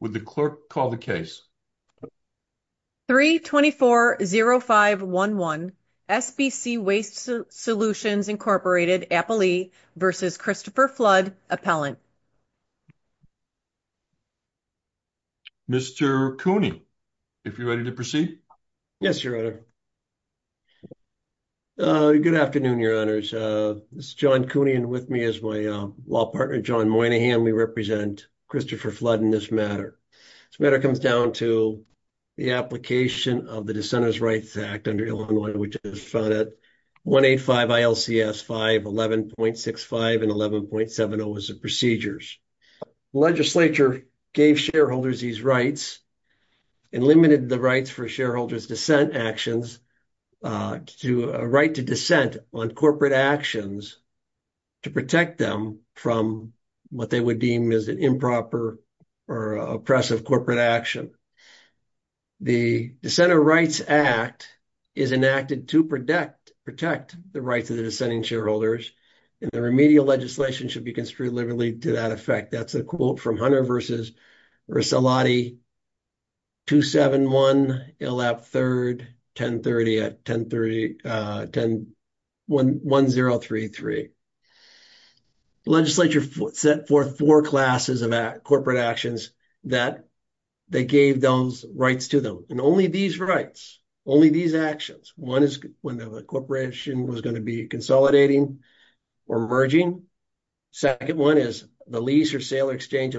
Would the clerk call the case? 3-24-05-11 SBC Waste Solutions, Inc. Appley v. Christopher Flood, Appellant Mr. Cooney, if you're ready to proceed. Yes, Your Honor. Good afternoon, Your Honors. This is John Cooney and with me is my law partner, John Moynihan. We represent Christopher Flood in this matter. This matter comes down to the application of the Dissenters' Rights Act under Illinois, which is found at 185 ILCS 511.65 and 11.70 as the procedures. The legislature gave shareholders these rights and limited the rights for shareholders' dissent actions to a right to dissent on corporate actions to protect them from what they would deem as an improper or oppressive corporate action. The Dissenters' Rights Act is enacted to protect the rights of the dissenting shareholders, and the remedial legislation should be construed liberally to that effect. That's a quote from the Dissenters' Rights Act. The legislature set forth four classes of corporate actions that they gave those rights to them, and only these rights, only these actions. One is when the corporation was going to be consolidating or merging. The second one is the lease or substantially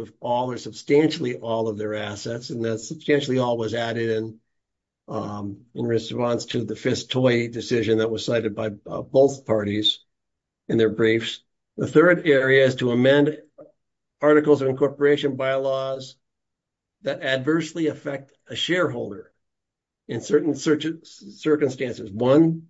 all of their assets, and that substantially all was added in response to the Fisk-Toy decision that was cited by both parties in their briefs. The third area is to amend Articles of Incorporation bylaws that adversely affect a shareholder in certain circumstances. One,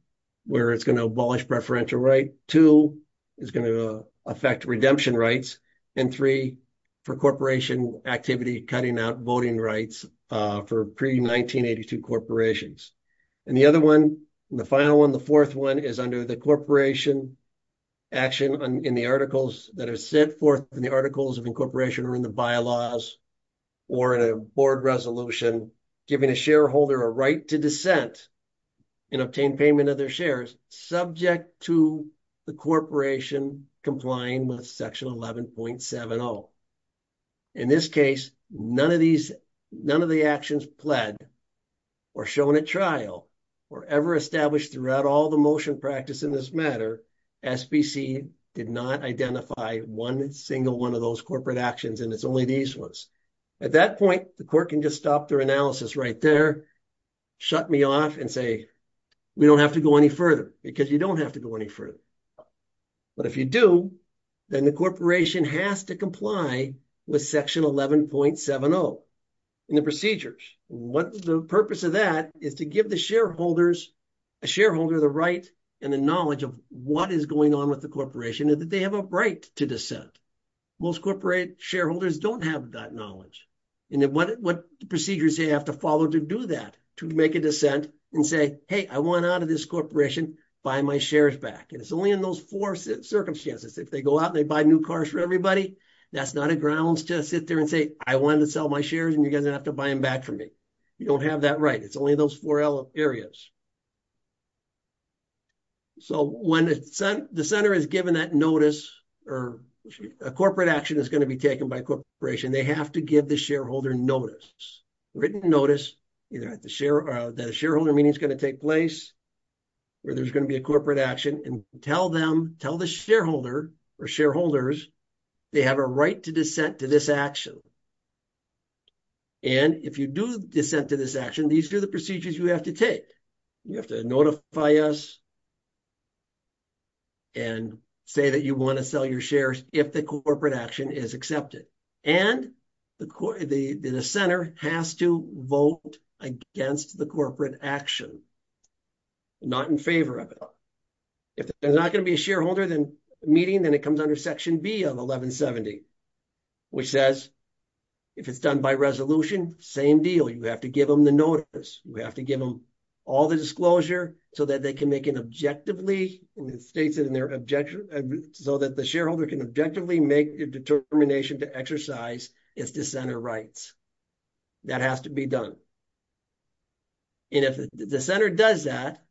where it's going to abolish preferential right. Two, it's going to affect redemption rights, and three, for corporation activity, cutting out voting rights for pre-1982 corporations. And the other one, the final one, the fourth one, is under the corporation action in the articles that are set forth in the Articles of Incorporation or in the bylaws or in a board resolution, giving a shareholder a right to dissent and obtain payment of their subject to the corporation complying with Section 11.70. In this case, none of these, none of the actions pled or shown at trial or ever established throughout all the motion practice in this matter, SBC did not identify one single one of those corporate actions, and it's only these ones. At that point, the court can just stop their analysis right there, shut me off and say, we don't have to go any further, because you don't have to go any further. But if you do, then the corporation has to comply with Section 11.70 in the procedures. What's the purpose of that is to give the shareholders, a shareholder the right and the knowledge of what is going on with the corporation and that they have a right to dissent. Most corporate shareholders don't have that knowledge, and what procedures they have to follow to do that, to make a dissent and say, hey, I want out of this corporation, buy my shares back. And it's only in those four circumstances. If they go out and they buy new cars for everybody, that's not a grounds to sit there and say, I wanted to sell my shares and you guys have to buy them back from me. You don't have that right. It's only those four areas. So when the center is given that notice, or a corporate action is going to be taken by the corporation, they have to give the shareholder notice, written notice, either at the share or that a shareholder meeting is going to take place, or there's going to be a corporate action and tell them, tell the shareholder or shareholders, they have a right to dissent to this action. And if you do dissent to this action, these are the procedures you have to take. You have to notify us and say that you want to sell your shares if the corporate action is accepted. And the center has to vote against the corporate action, not in favor of it. If there's not going to be a shareholder meeting, then it comes under section B of 1170, which says, if it's done by resolution, same deal. You have to give them the notice. You have to give them all the disclosure so that they can make an objectively, and it states it in their objection, so that the shareholder can objectively make a determination to exercise its dissenter rights. That has to be done. And if the center does that,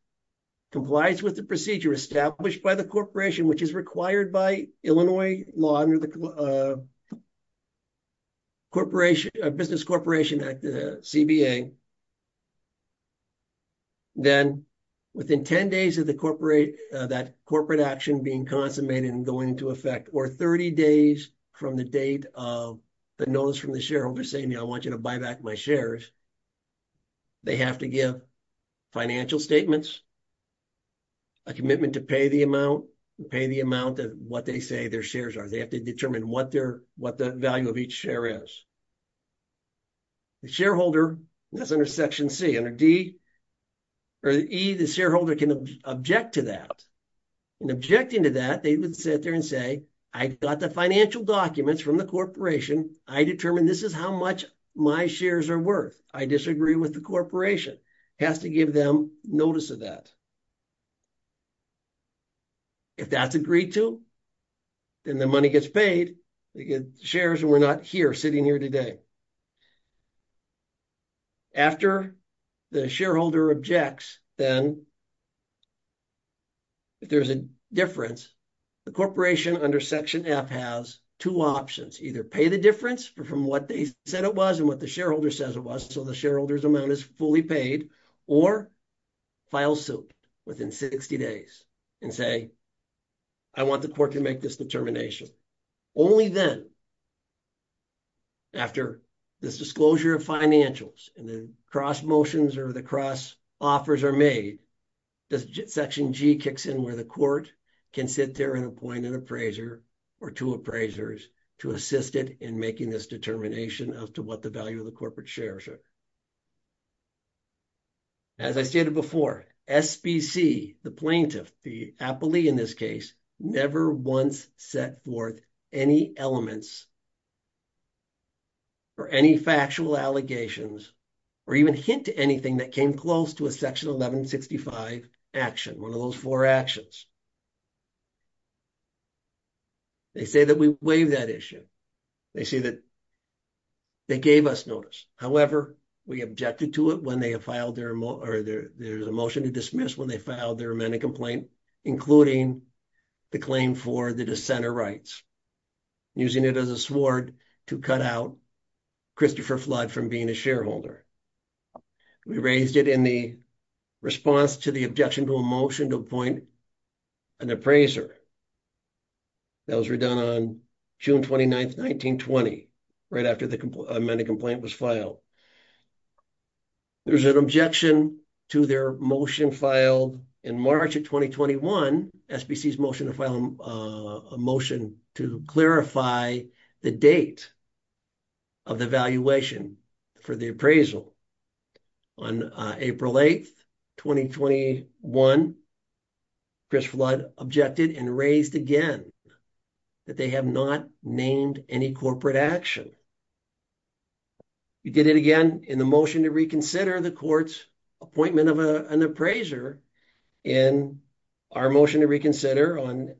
complies with the procedure established by the corporation, which is required by Illinois law under the Business Corporation Act, the CBA, then within 10 days of that corporate action being consummated and going into effect, or 30 days from the date of the notice from the shareholder saying, you know, I want you to buy back my shares, they have to give financial statements, a commitment to pay the amount, pay the amount of what they say their shares are. They have to determine what their, what the value of each share is. The shareholder, that's under section C, under D, or E, the shareholder can object to that. In objecting to that, they would sit there and say, I got the financial documents from the corporation. I determined this is how much my shares are worth. I disagree with the corporation. Has to give them notice of that. If that's agreed to, then the money gets paid. They get shares and we're not here sitting here today. After the shareholder objects, then if there's a difference, the corporation under section F has two options. Either pay the difference from what they said it was and what the shareholder says it was, so the shareholder's amount is fully paid, or file suit within 60 days and say, I want the court to make this determination. Only then, after this disclosure of financials and the cross motions or the cross offers are made, does section G kicks in where the court can sit there and appoint an appraiser or two appraisers to assist it in making this determination as to what the value of the corporate shares are. As I stated before, SBC, the plaintiff, the appellee in this case, never once set forth any elements or any factual allegations or even hint to anything that came close to a section 1165 action, one of those four actions. They say that we waive that issue. They say that they gave us notice. However, we objected to it when they have filed their, or there's a motion to dismiss when they filed their amendment complaint, including the claim for the dissenter rights, using it as a sword to cut out Christopher Flood from being a shareholder. We raised it in the response to the objection to a motion to appoint an appraiser. That was redone on June 29th, 1920, right after the amendment complaint was filed. There's an objection to their motion filed in March of 2021, SBC's motion to file a motion to clarify the date of the valuation for the appraisal. On April 8th, 2021, Chris Flood objected and raised again that they have not named any corporate action. We did it again in the motion to reconsider the court's appointment of an appraiser in our motion to reconsider on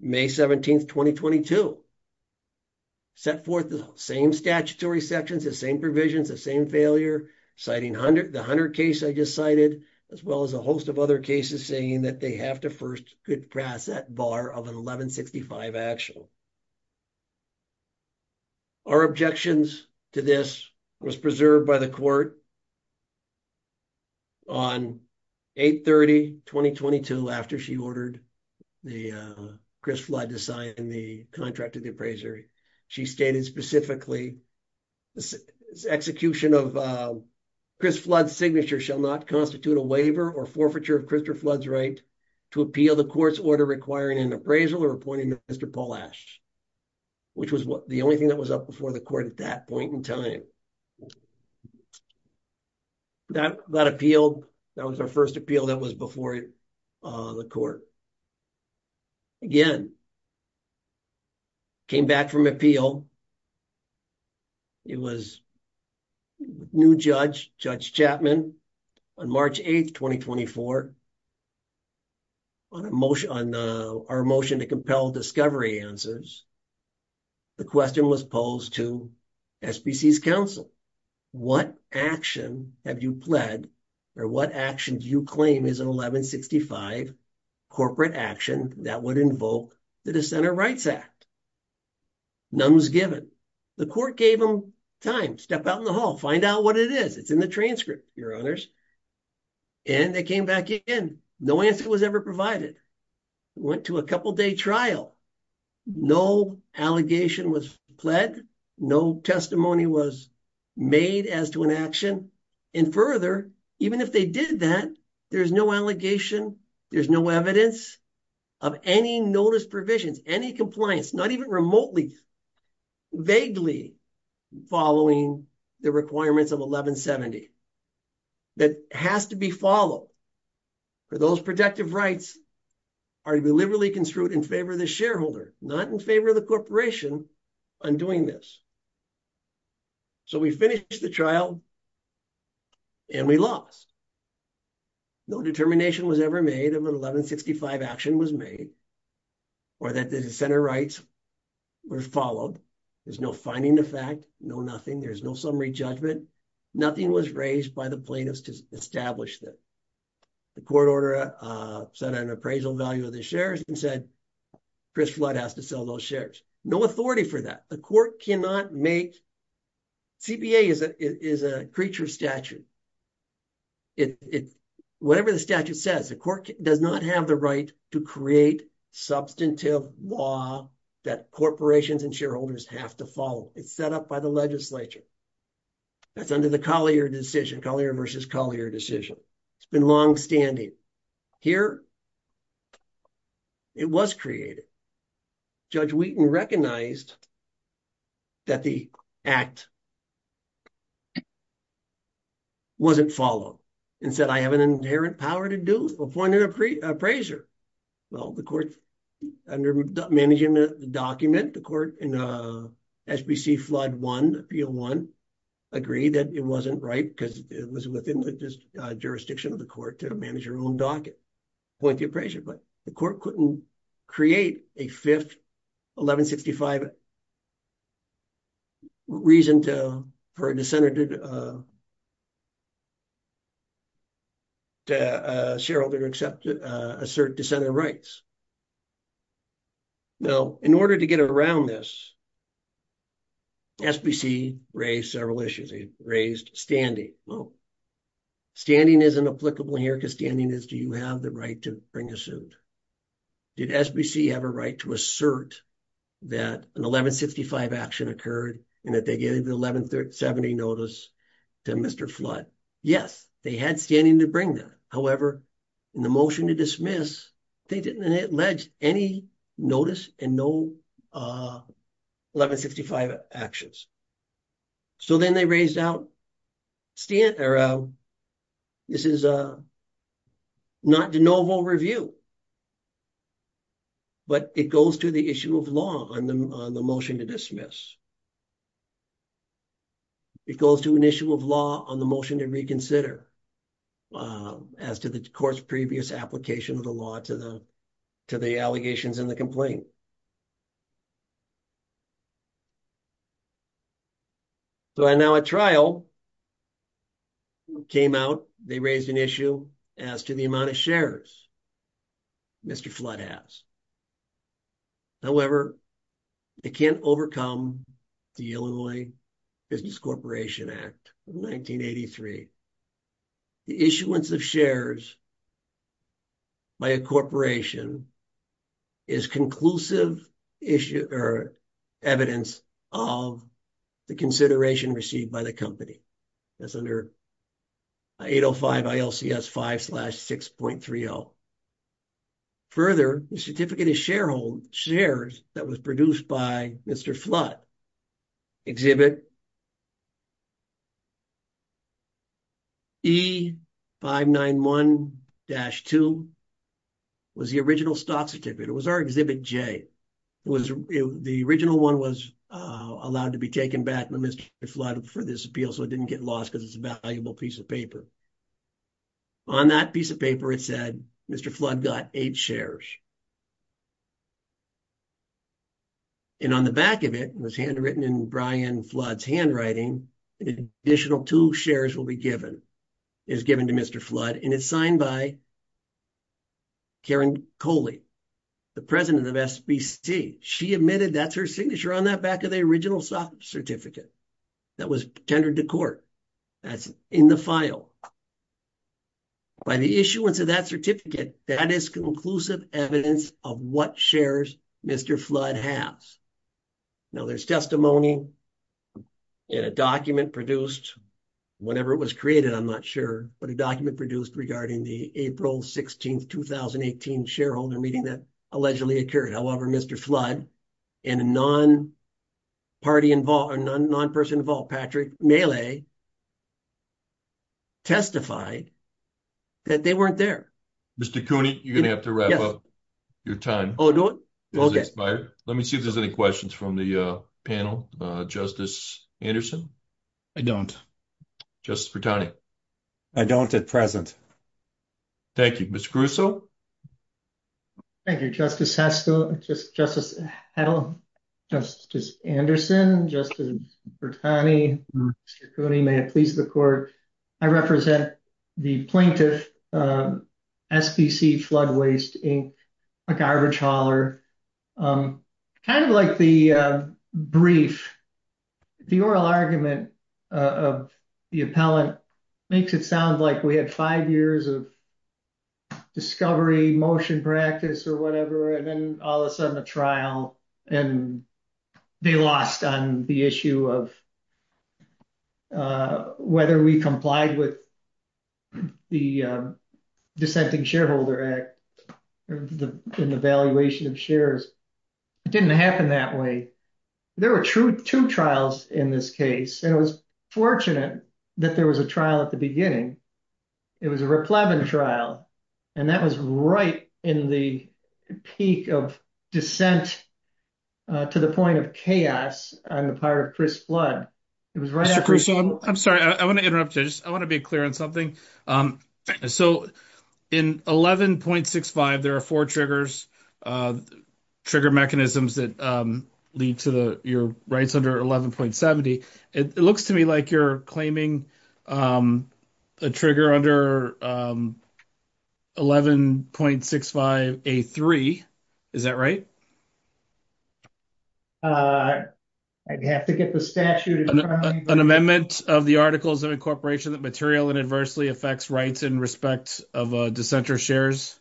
May 17th, 2022. Set forth the same statutory sections, the same provisions, the same failure, citing the Hunter case I just cited, as well as a host of other cases saying that they have to first get past that bar of an 1165 action. Our objections to this was preserved by the court on 8-30-2022, after she ordered Chris Flood to sign the contract of the appraiser. She stated specifically the execution of Chris Flood's signature shall not constitute a waiver or forfeiture of Christopher Flood's right to appeal the court's order requiring an appraisal or Mr. Polash, which was the only thing that was up before the court at that point in time. That appeal, that was our first appeal that was before the court. Again, came back from appeal. It was new judge, Judge Chapman, on March 8th, 2024, on our motion to compel discovery answers, the question was posed to SBC's counsel, what action have you pled or what action do you claim is an 1165 corporate action that would invoke the Dissenter Rights Act? None was given. The court gave them time, step out in the hall, find out what it is. It's in the transcript, your honors. And they came back in, no answer was ever provided. Went to a couple day trial, no allegation was pled, no testimony was made as to an action. And further, even if they did that, there's no allegation, there's no evidence of any notice provisions, any compliance, not even has to be followed for those protective rights are deliberately construed in favor of the shareholder, not in favor of the corporation on doing this. So we finished the trial and we lost. No determination was ever made of an 1165 action was made or that the dissenter rights were followed. There's no finding the fact, no nothing. There's no summary judgment. Nothing was raised by the plaintiffs to establish that the court order set an appraisal value of the shares and said, Chris Flood has to sell those shares. No authority for that. The court cannot make, CBA is a creature statute. Whatever the statute says, the court does not have the right to create substantive law that corporations and shareholders have to follow. It's set up by the legislature. That's under the Collier decision, Collier versus Collier decision. It's been longstanding. Here, it was created. Judge Wheaton recognized that the act wasn't followed and said, I have an inherent power to do, appoint an appraiser. Well, under managing the document, the court in SBC Flood 1, appeal 1, agreed that it wasn't right because it was within the jurisdiction of the court to manage your own docket, appoint the appraiser. But the court couldn't create a fifth 1165 reason for a dissenter to assert dissenter rights. Now, in order to get around this, SBC raised several issues. They raised standing. Well, standing isn't applicable here because standing is do you have the right to bring a suit? Did SBC have a right to assert that an 1165 action occurred and that they gave the 1170 notice to Mr. Flood? Yes, they had standing to bring that. However, in the motion to dismiss, they didn't allege any notice and no 1165 actions. So then they raised out, this is not de novo review, but it goes to the issue of law on the motion to dismiss. It goes to an issue of law on the motion to reconsider as to the court's previous application of the law to the allegations in the complaint. So now a trial came out, they raised an issue as to the amount of shares Mr. Flood has. However, they can't overcome the Illinois Business Corporation Act of 1983. The issuance of shares by a corporation is conclusive evidence of the consideration received by the company. That's under 805 ILCS 5 slash 6.30. Further, the certificate of sharehold shares that was dashed to was the original stock certificate. It was our Exhibit J. The original one was allowed to be taken back to Mr. Flood for this appeal, so it didn't get lost because it's a valuable piece of paper. On that piece of paper, it said Mr. Flood got eight shares. And on the back of it, it was handwritten in Brian Flood's handwriting, an additional two will be given, is given to Mr. Flood, and it's signed by Karen Coley, the president of SBC. She admitted that's her signature on that back of the original stock certificate that was tendered to court. That's in the file. By the issuance of that certificate, that is conclusive evidence of what shares Mr. Flood has. Now there's testimony and a document produced, whenever it was created, I'm not sure, but a document produced regarding the April 16, 2018 shareholder meeting that allegedly occurred. However, Mr. Flood and a non-person involved, Patrick Mele, testified that they weren't there. Mr. Cooney, you're going to have to wrap up your time. Oh, do it? Okay. Let me see if there's any questions from the panel. Justice Anderson? I don't. I don't at present. Thank you. Mr. Caruso? Thank you, Justice Hedlum, Justice Anderson, Justice Bertani, Mr. Cooney, may it please the I represent the plaintiff, SBC Flood Waste Inc., a garbage hauler. Kind of like the brief, the oral argument of the appellant makes it sound like we had five years of discovery, motion practice or whatever, and then all of a sudden a trial and they lost on the issue of whether we complied with the Dissenting Shareholder Act in the valuation of shares. It didn't happen that way. There were two trials in this case, and it was fortunate that there was a trial at the beginning. It was a Raplevin trial, and that was right in the peak of dissent to the point of chaos on the part of Chris Flood. I'm sorry, I want to interrupt you. I want to be clear on something. So in 11.65, there are four triggers, trigger mechanisms that lead to your rights under 11.70. It looks to me like you're claiming a trigger under 11.65A3. Is that right? I'd have to get the statute in front of me. An amendment of the Articles of Incorporation that materially and adversely affects rights in respect of dissenter shares?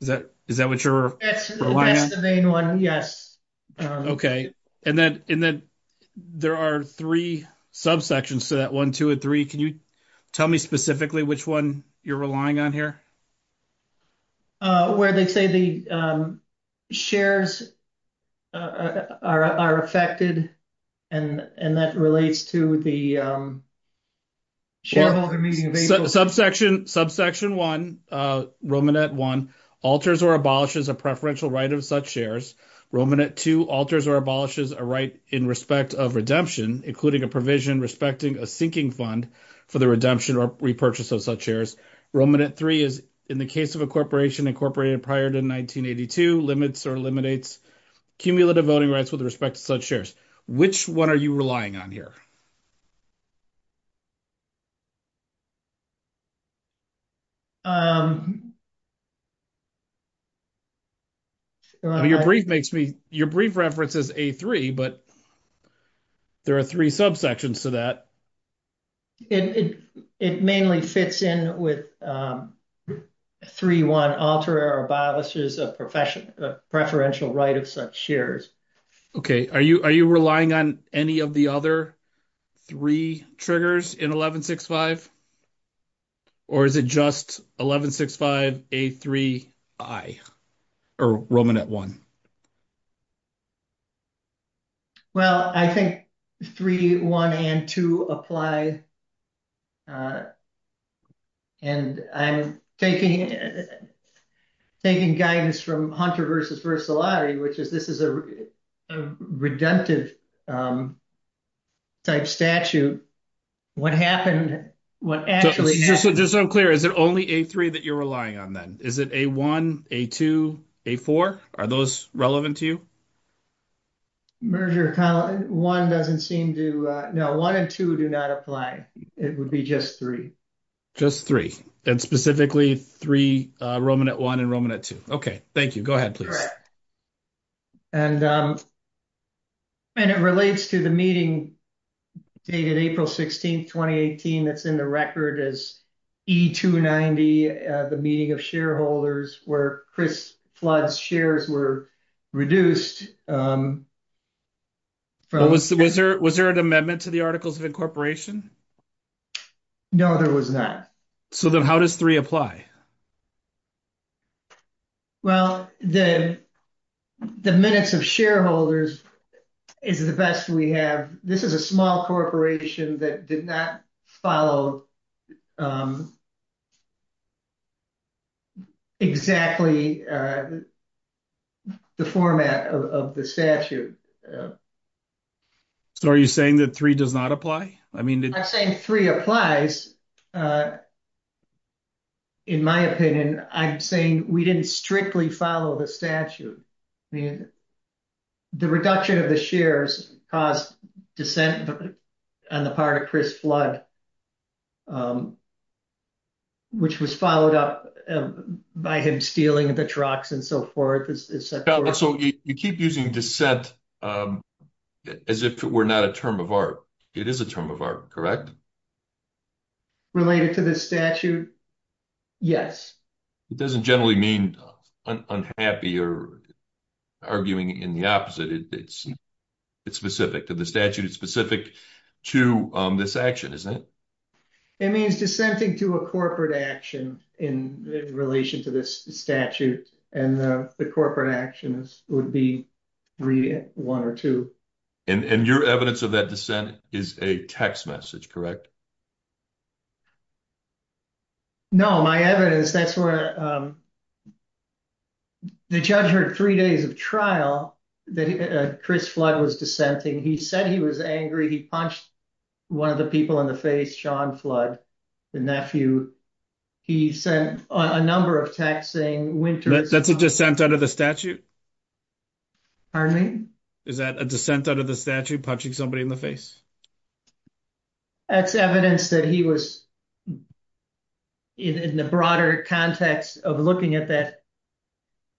Is that what you're relying on? That's the main one, yes. Okay. And then there are three subsections to that one, two and three. Can you tell me specifically which one you're relying on here? Where they say the shares are affected, and that relates to the shareholder meeting of April. Subsection 1, Romanet 1, alters or abolishes a preferential right of such shares. Romanet 2, alters or abolishes a right in respect of redemption, including a provision respecting a sinking fund for the redemption or repurchase of such shares. Romanet 3 is, in the case of a corporation incorporated prior to 1982, limits or eliminates cumulative voting rights with respect to such shares. Which one are you relying on here? Your brief references A3, but there are three subsections to that. It mainly fits in with 3.1, alters or abolishes a preferential right of such shares. Okay. Are you relying on any of the other three triggers in 1165? Or is it just 1165, A3, I, or Romanet 1? Well, I think 3, 1, and 2 apply. And I'm taking guidance from Hunter versus Versillari, which is, this is a redemptive type statute. What happened, what actually happened... Just so I'm clear, is it only A3 that you're relying on then? Is it A1, A2, A4? Are those relevant to you? No, 1 and 2 do not apply. It would be just 3. Just 3. And specifically Romanet 1 and Romanet 2. Okay. Thank you. Go ahead, please. And it relates to the meeting dated April 16th, 2018, that's in the record as E290, the meeting of shareholders where Chris Flood's shares were reduced. Was there an amendment to the Articles of Incorporation? No, there was not. So then how does 3 apply? Well, the minutes of shareholders is the best we have. This is a small corporation that did not follow exactly the format of the statute. So are you saying that 3 does not apply? I mean... 3 applies. In my opinion, I'm saying we didn't strictly follow the statute. The reduction of the shares caused dissent on the part of Chris Flood, which was followed up by him stealing the trucks and so forth. So you keep using dissent as if it were not a term of art. It is a term of art, correct? Related to this statute? Yes. It doesn't generally mean unhappy or arguing in the opposite. It's specific to the statute. It's specific to this action, isn't it? It means dissenting to a corporate action in relation to this statute, and the corporate actions would be 3, 1, or 2. And your evidence of that dissent is a text message, correct? No, my evidence, that's where the judge heard three days of trial that Chris Flood was dissenting. He said he was angry. He punched one of the people in the face, Sean Flood, the nephew. He sent a number of texts saying... That's a dissent under the statute? Pardon me? Is that a dissent under the statute, punching somebody in the face? That's evidence that he was in the broader context of looking at that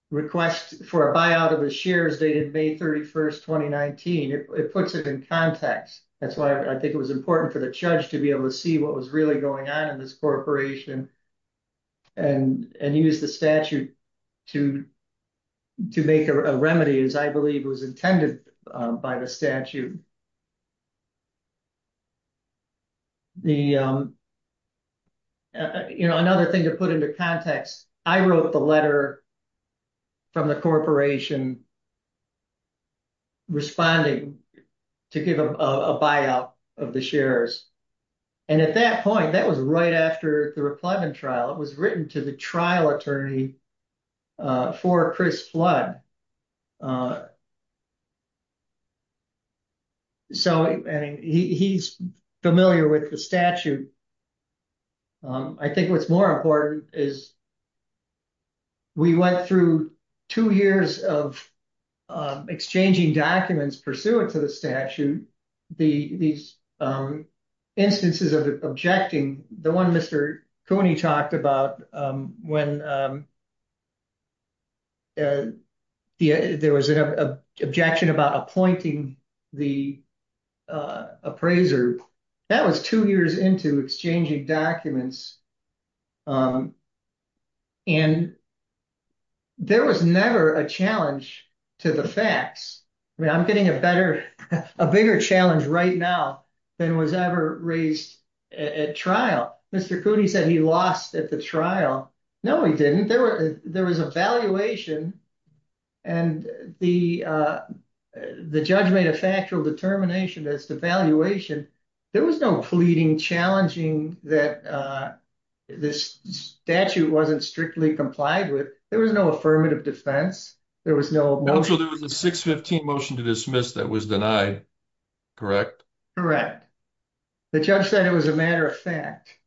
request for a buyout of the shares dated May 31st, 2019. It puts it in context. That's why I think it was important for the judge to be able to see what was going on in this corporation and use the statute to make a remedy, as I believe was intended by the statute. Another thing to put into context, I wrote the letter from the corporation responding to give a buyout of the shares. And at that point, that was right after the replugging trial. It was written to the trial attorney for Chris Flood. So he's familiar with the statute. I think what's more important is that we went through two years of exchanging documents pursuant to the statute. These instances of objecting, the one Mr. Cooney talked about when there was an objection about appointing the appraiser, that was two years into exchanging documents. And there was never a challenge to the facts. I mean, I'm getting a better, a bigger challenge right now than was ever raised at trial. Mr. Cooney said he lost at the trial. No, he didn't. There was a valuation and the judge made a factual determination as to valuation. There was no pleading challenging that this statute wasn't strictly complied with. There was no affirmative defense. There was no motion. There was a 615 motion to dismiss that was denied, correct? Correct. The judge said it was a matter of fact.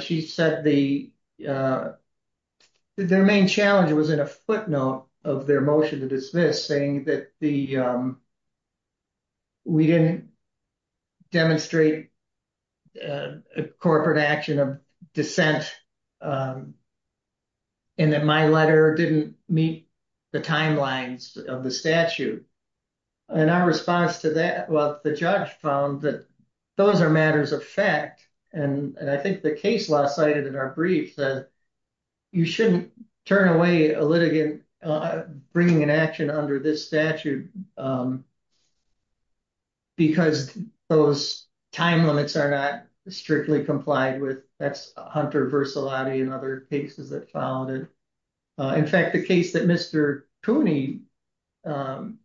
She said the, their main challenge was in a footnote of their motion to dismiss saying that the, um, we didn't demonstrate a corporate action of dissent and that my letter didn't meet the timelines of the statute. And our response to that, well, the judge found that those are matters of fact. And I think the case law cited in our brief that you shouldn't turn away a litigant bringing an action under this statute, um, because those time limits are not strictly complied with. That's Hunter Versalotti and other cases that followed it. Uh, in fact, the case that Mr. Cooney, um,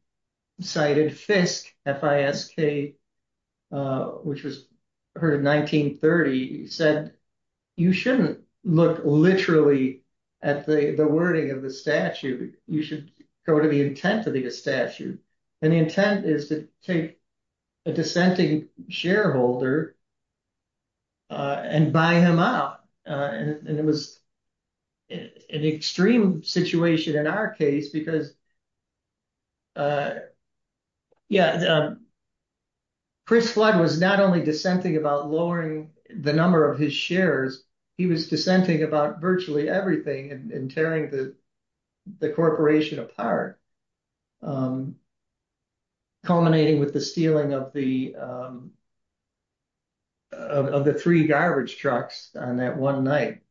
cited Fisk, F-I-S-K, uh, which was heard in 1930 said, you shouldn't look literally at the wording of the statute. You should go to the intent of the statute. And the intent is to take a dissenting shareholder, uh, and buy him out. Uh, and it was an extreme situation in our case because, uh, yeah, um, Chris Flood was not only about lowering the number of his shares, he was dissenting about virtually everything and tearing the corporation apart, um, culminating with the stealing of the, um, of the three garbage trucks on that one night.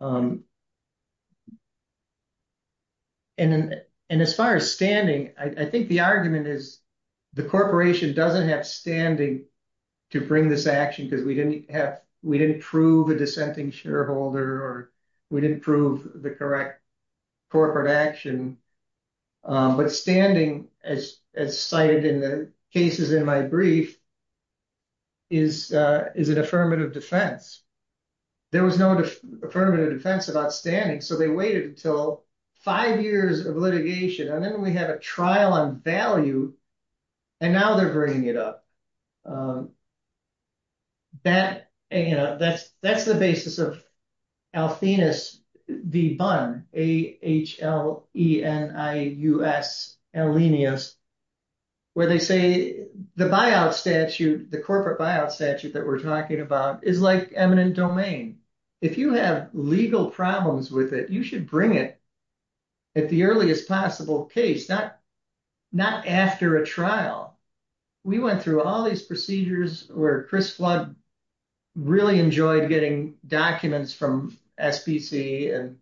Um, and, and as far as standing, I think the argument is the corporation doesn't have standing to bring this action because we didn't have, we didn't prove a dissenting shareholder or we didn't prove the correct corporate action. Um, but standing as, as cited in the cases in my brief is, uh, is an affirmative defense. There was no affirmative defense about standing. So they waited until five years of litigation, and then we have a trial on value and now they're bringing it up. Um, that, you know, that's, that's the basis of Althenus v. Bunn, A-H-L-E-N-I-U-S, Alenius, where they say the buyout statute, the corporate buyout statute that we're talking about is like a permanent domain. If you have legal problems with it, you should bring it at the earliest possible case, not, not after a trial. We went through all these procedures where Chris Flood really enjoyed getting documents from SPC and,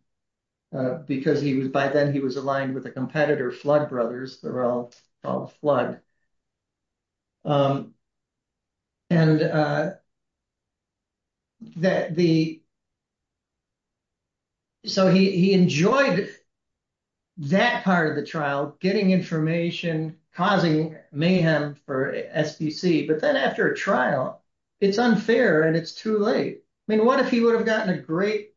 uh, because he was, by then he was aligned with a competitor, Flood Brothers, they're all called Flood. Um, and, uh, that the, so he, he enjoyed that part of the trial, getting information, causing mayhem for SPC. But then after a trial, it's unfair and it's too late. I mean, what if he would have gotten a great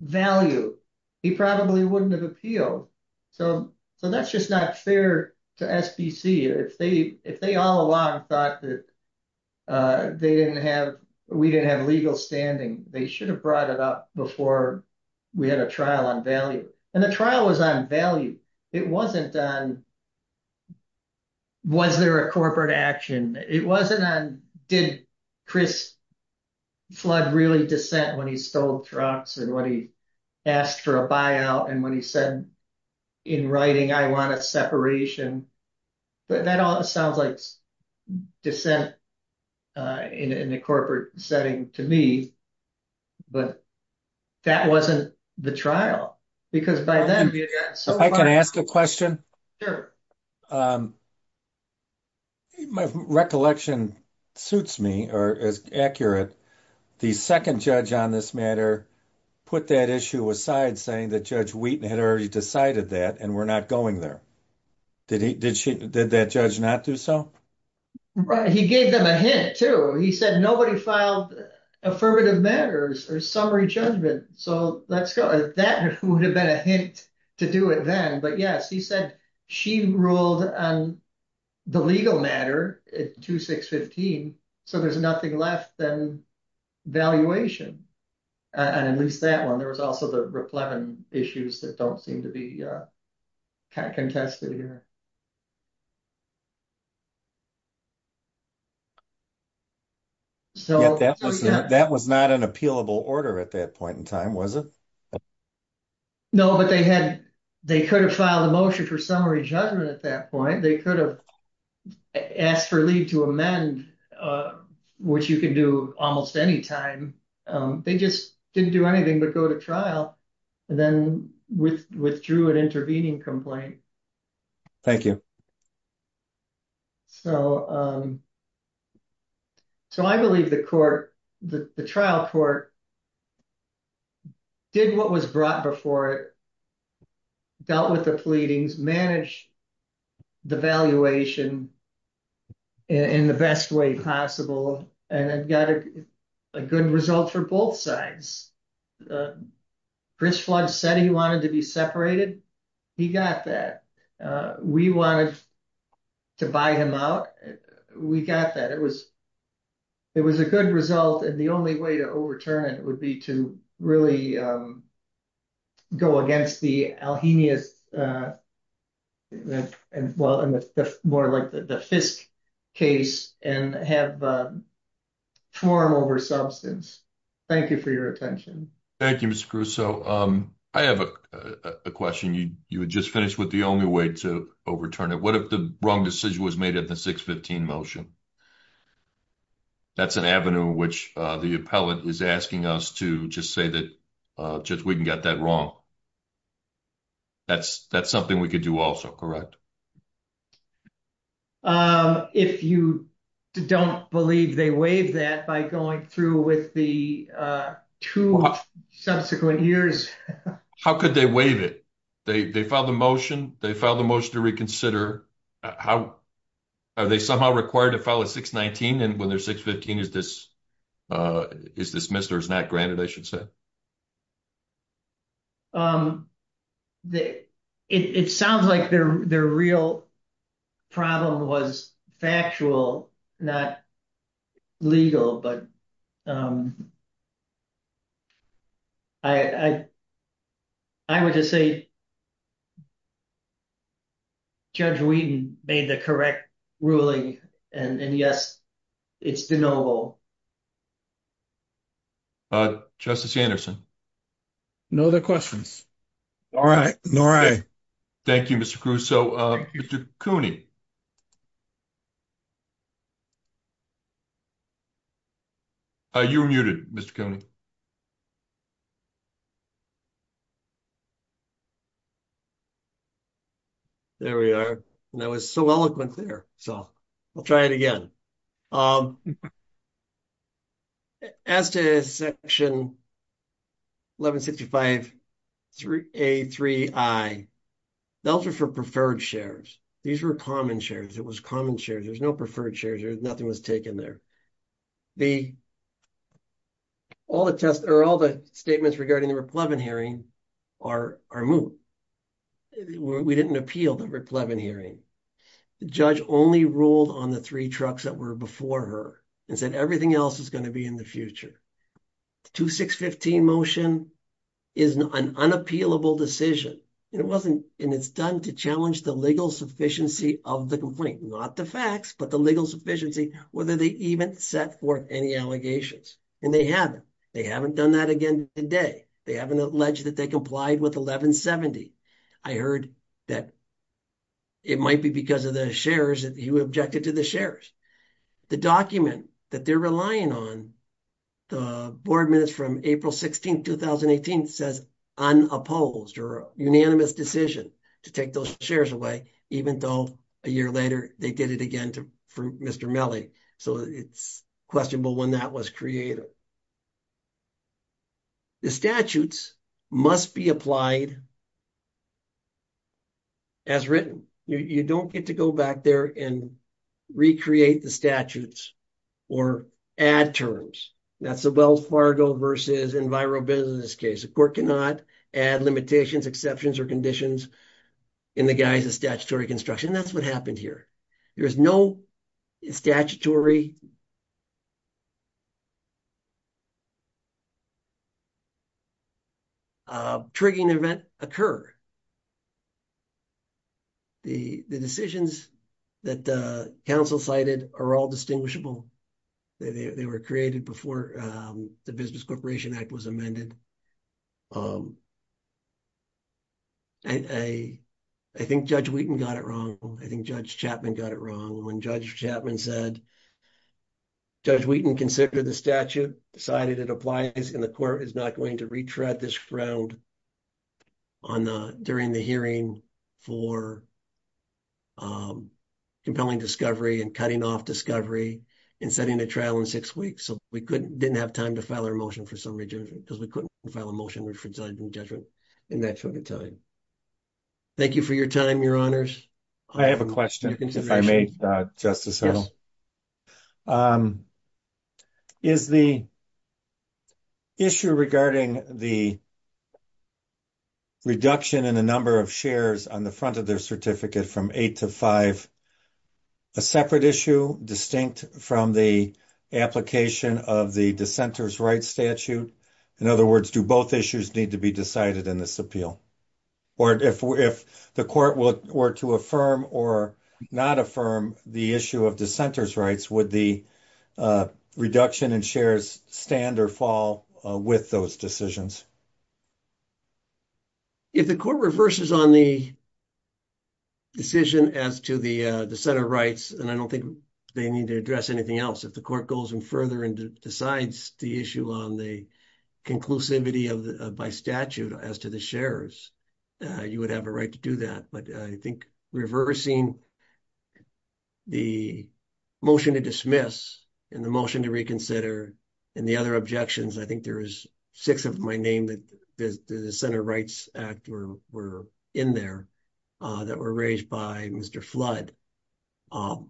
value? He probably wouldn't have appealed. So, so that's just not fair to SPC. If they, if they all along thought that, uh, they didn't have, we didn't have legal standing, they should have brought it up before we had a trial on value. And the trial was on value. It wasn't on, was there a corporate action? It wasn't on, did Chris Flood really dissent when he stole trucks and when he asked for a buyout and when he said in writing, I want a separation, but that all sounds like dissent, uh, in a corporate setting to me, but that wasn't the trial because by then we had gotten so far. Ask a question. Um, my recollection suits me or is accurate. The second judge on this matter put that issue aside saying that judge Wheaton had already decided that and we're not going there. Did he, did she, did that judge not do so? Right. He gave them a hint too. He said, nobody filed affirmative matters or summary judgment. So let's go. That would have been a to do it then. But yes, he said she ruled on the legal matter at 2, 6, 15. So there's nothing left than valuation. Uh, and at least that one, there was also the replenishment issues that don't seem to be, uh, kind of contested here. So that was not an appealable order at that point in time, was it? No, but they had, they could have filed a motion for summary judgment at that point. They could have asked for leave to amend, uh, which you can do almost any time. Um, they just didn't do anything but go to trial and then withdrew an intervening complaint. Thank you. So, um, so I believe the court, the trial court did what was brought before it, dealt with the pleadings, managed the valuation in the best way possible, and it got a good result for both sides. Uh, Chris Flugg said he wanted to be separated. He got that. Uh, we wanted to buy him out. We got that. It was, it was a good result, and the only way to overturn it would be to really, um, go against the Alhemia's, uh, and well, and the more like the Fisk case and have, um, form over substance. Thank you for your attention. Thank you, Mr. Crusoe. Um, I have a question. You, you had just finished with the only way to overturn it. What if the wrong decision was made at the 615 motion? That's an avenue which, uh, the appellate is asking us to just say that, uh, just we can get that wrong. That's, that's something we could do also, correct? Um, if you don't believe they waived that by going through with the, uh, two subsequent years. How could they waive it? They, they filed a motion. They filed a motion to reconsider. How, are they somehow required to file a 619, and when they're 615, is this, uh, is dismissed or is not granted, I should say? Um, it, it sounds like their, their real problem was factual, not legal, but, um, I, I, I would just say Judge Wheaton made the correct ruling and, and yes, it's de novo. Uh, Justice Anderson. No other questions. All right. All right. Thank you, Mr. Crusoe. Um, Mr. Cooney. Uh, you're muted, Mr. Cooney. There we are, and I was so eloquent there, so I'll try it again. Um, as to Section 1165A3I, those are for preferred shares. These were common shares. It was common shares. There's no preferred shares. Nothing was taken there. The, all the test, or all the statements regarding the RIP-11 hearing are, are moot. We didn't appeal the RIP-11 hearing. The judge only ruled on the three trucks that were before her and said everything else is going to be in the future. The 2615 motion is an unappealable decision, and it wasn't, and it's done to challenge the legal sufficiency of the complaint, not the facts, but the legal sufficiency, whether they even set forth any allegations, and they haven't. They haven't done that again today. They haven't alleged that they complied with 1170. I heard that it might be because of the shares that he objected to the shares. The document that they're relying on, the board minutes from April 16, 2018, says unopposed, or a unanimous decision to take those shares away, even though a year later they did it again to, for Mr. Melle, so it's questionable when that was created. The statutes must be applied as written. You don't get to go back there and recreate the statutes or add terms. That's the Wells Fargo versus EnviroBusiness case. The court cannot add limitations, exceptions, or conditions in the guise of statutory construction. That's happened here. There's no statutory triggering event occur. The decisions that the council cited are all distinguishable. They were created before the Business Corporation Act was amended. I think Judge Wheaton got it wrong. I think Judge Chapman got it wrong. When Judge Chapman said, Judge Wheaton considered the statute, decided it applies, and the court is not going to retread this round during the hearing for compelling discovery and cutting off discovery and setting a trial in six weeks. We didn't have time to file our motion for summary judgment because we couldn't file a motion for judgment in that short of time. Thank you for your time, your honors. I have a question, if I may, Justice Earl. Is the issue regarding the reduction in the number of shares on the front of their certificate from eight to five a separate issue distinct from the application of the dissenter's rights statute? In other words, do both issues need to be decided in this appeal? Or if the court were to affirm or not affirm the issue of dissenter's rights, would the reduction in shares stand or fall with those decisions? If the court reverses on the decision as to the dissenter rights, and I don't think they need to address anything else. If the court goes in further and decides the issue on the conclusivity by statute as to the shares, you would have a right to do that. But I think reversing the motion to dismiss and the motion to reconsider and the other objections, I think there is six of my name that the dissenter rights act were in there that were raised by Mr. Flood. It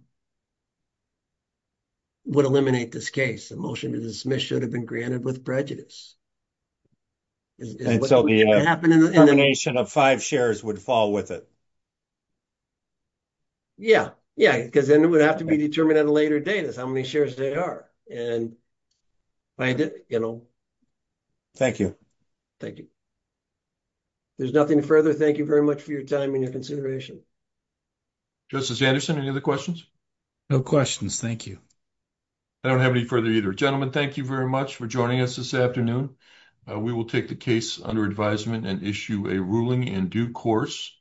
would eliminate this case. The motion to dismiss should have been granted with prejudice. And so the termination of five shares would fall with it? Yeah. Yeah. Because then it would have to be determined at a later date as how many shares they are. And I did, you know. Thank you. Thank you. There's nothing further. Thank you very much for your time and your consideration. Justice Anderson, any other questions? No questions. Thank you. I don't have any further either. Gentlemen, thank you very much for joining us this afternoon. We will take the case under advisement and issue a ruling in due course.